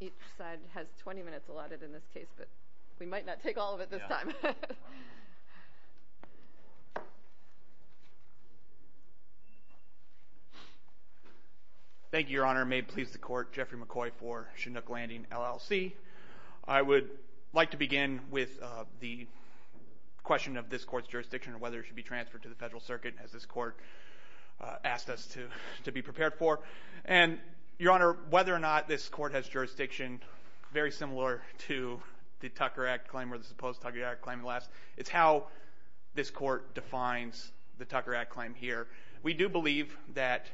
Each side has 20 minutes allotted in this case, but we might not take all of it this time. Thank you, Your Honor. May it please the Court, Jeffrey McCoy for Chinook Landing, LLC. I would like to begin with the question of this Court's jurisdiction and whether it should be transferred to the Federal Circuit, as this Court asked us to be prepared for. And, Your Honor, whether or not this Court has jurisdiction very similar to the Tucker Act claim or the supposed Tucker Act claim in the last, it's how this Court defines the Tucker Act claim here. We do believe that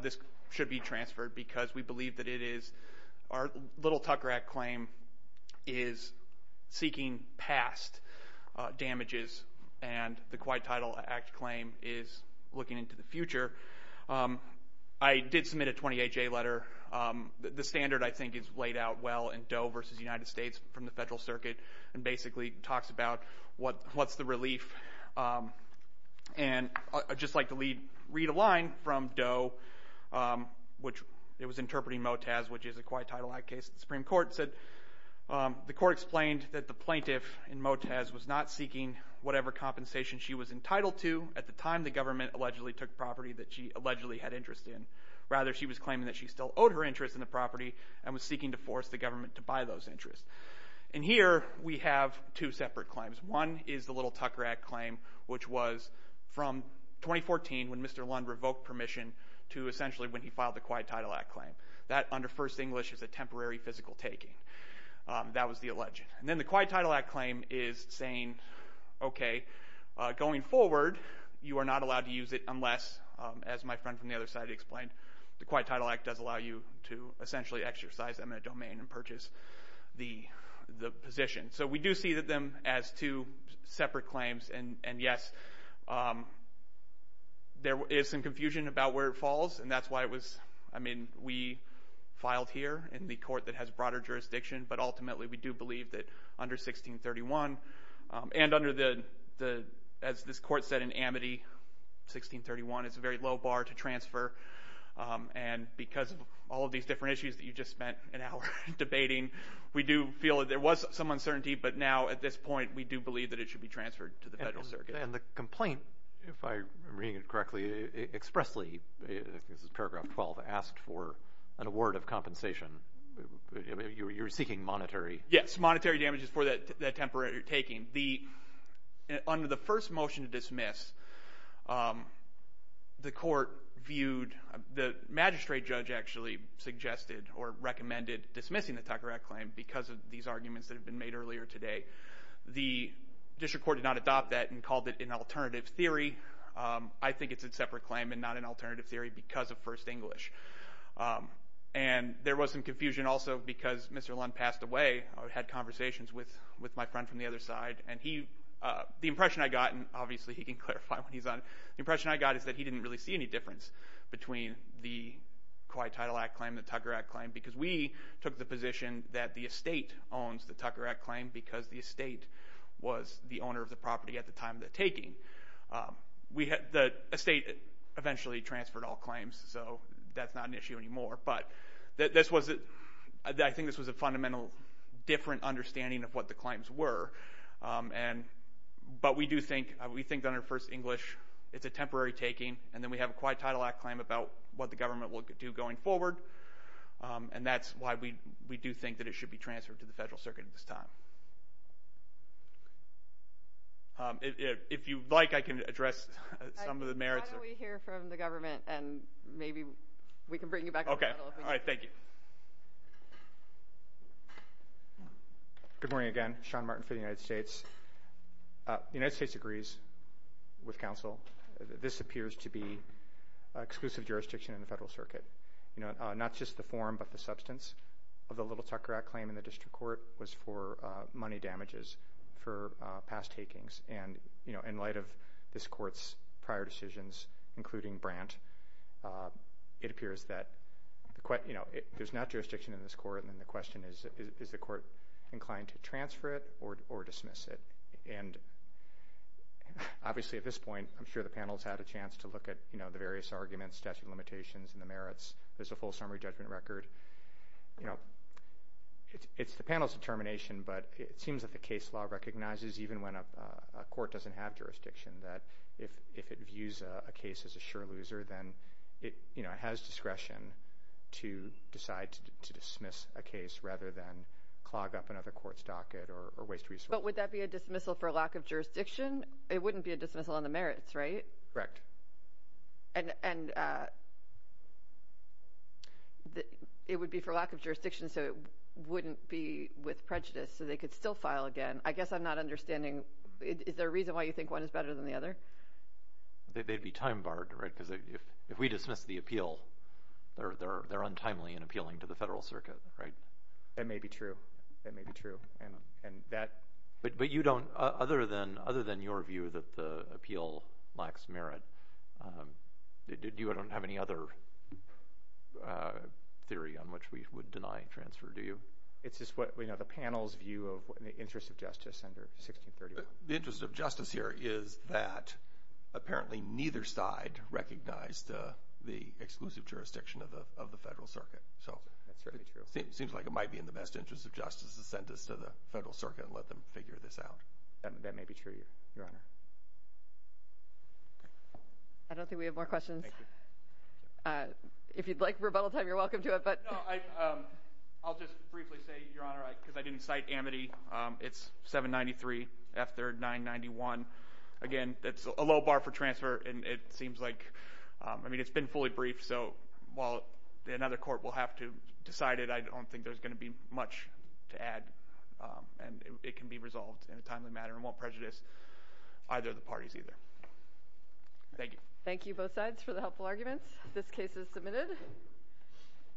this should be transferred because we believe that it is our little Tucker Act claim is seeking past damages and the Quiet Title Act claim is looking into the future. I did submit a 28-J letter. The standard, I think, is laid out well in Doe v. United States from the Federal Circuit and basically talks about what's the relief. And I'd just like to read a line from Doe, which it was interpreting Motaz, which is a Quiet Title Act case. The Supreme Court said, The Court explained that the plaintiff in Motaz was not seeking whatever compensation she was entitled to. At the time, the government allegedly took property that she allegedly had interest in. Rather, she was claiming that she still owed her interest in the property and was seeking to force the government to buy those interests. And here we have two separate claims. One is the little Tucker Act claim, which was from 2014 when Mr. Lund revoked permission to essentially when he filed the Quiet Title Act claim. That, under First English, is a temporary physical taking. That was the allegation. And then the Quiet Title Act claim is saying, okay, going forward, you are not allowed to use it unless, as my friend from the other side explained, the Quiet Title Act does allow you to essentially exercise them in a domain and purchase the position. So we do see them as two separate claims. And, yes, there is some confusion about where it falls. And that's why it was, I mean, we filed here in the court that has broader jurisdiction. But, ultimately, we do believe that under 1631 and under the, as this court said in Amity, 1631 is a very low bar to transfer. And because of all of these different issues that you just spent an hour debating, we do feel that there was some uncertainty. But now, at this point, we do believe that it should be transferred to the federal circuit. And the complaint, if I'm reading it correctly, expressly, this is paragraph 12, asked for an award of compensation. You're seeking monetary. Yes, monetary damages for that temporary taking. Under the first motion to dismiss, the court viewed, the magistrate judge actually suggested or recommended dismissing the Tucker Act claim because of these arguments that have been made earlier today. The district court did not adopt that and called it an alternative theory. I think it's a separate claim and not an alternative theory because of First English. And there was some confusion also because Mr. Lund passed away. I had conversations with my friend from the other side. And the impression I got, and obviously he can clarify when he's on, the impression I got is that he didn't really see any difference between the Kauai Title Act claim and the Tucker Act claim because we took the position that the estate owns the Tucker Act claim because the estate was the owner of the property at the time of the taking. The estate eventually transferred all claims, so that's not an issue anymore. But I think this was a fundamental different understanding of what the claims were. But we do think under First English it's a temporary taking, and then we have a Kauai Title Act claim about what the government will do going forward. And that's why we do think that it should be transferred to the federal circuit at this time. If you'd like, I can address some of the merits. Why don't we hear from the government, and maybe we can bring you back to the middle. Okay. All right. Thank you. Good morning again. Sean Martin for the United States. The United States agrees with counsel that this appears to be exclusive jurisdiction in the federal circuit. Not just the form, but the substance of the little Tucker Act claim in the district court was for money damages for past takings. And in light of this court's prior decisions, including Brandt, it appears that there's not jurisdiction in this court, and the question is, is the court inclined to transfer it or dismiss it? And obviously at this point, I'm sure the panel's had a chance to look at the various arguments, statute of limitations, and the merits. There's a full summary judgment record. It's the panel's determination, but it seems that the case law recognizes, even when a court doesn't have jurisdiction, that if it views a case as a sure loser, then it has discretion to decide to dismiss a case rather than clog up another court's docket or waste resources. But would that be a dismissal for lack of jurisdiction? It wouldn't be a dismissal on the merits, right? Correct. And it would be for lack of jurisdiction, so it wouldn't be with prejudice, so they could still file again. I guess I'm not understanding. Is there a reason why you think one is better than the other? They'd be time-barred, right? Because if we dismiss the appeal, they're untimely in appealing to the federal circuit, right? That may be true. That may be true. But you don't, other than your view that the appeal lacks merit, you don't have any other theory on which we would deny transfer, do you? It's just the panel's view of the interest of justice under 1631. The interest of justice here is that apparently neither side recognized the exclusive jurisdiction of the federal circuit. That's certainly true. It seems like it might be in the best interest of justice to send this to the federal circuit and let them figure this out. That may be true, Your Honor. I don't think we have more questions. If you'd like rebuttal time, you're welcome to it. No, I'll just briefly say, Your Honor, because I didn't cite Amity, it's 793 after 991. Again, that's a low bar for transfer, and it seems like, I mean, it's been fully briefed. So while another court will have to decide it, I don't think there's going to be much to add, and it can be resolved in a timely manner and won't prejudice either of the parties either. Thank you. Thank you, both sides, for the helpful arguments. This case is submitted.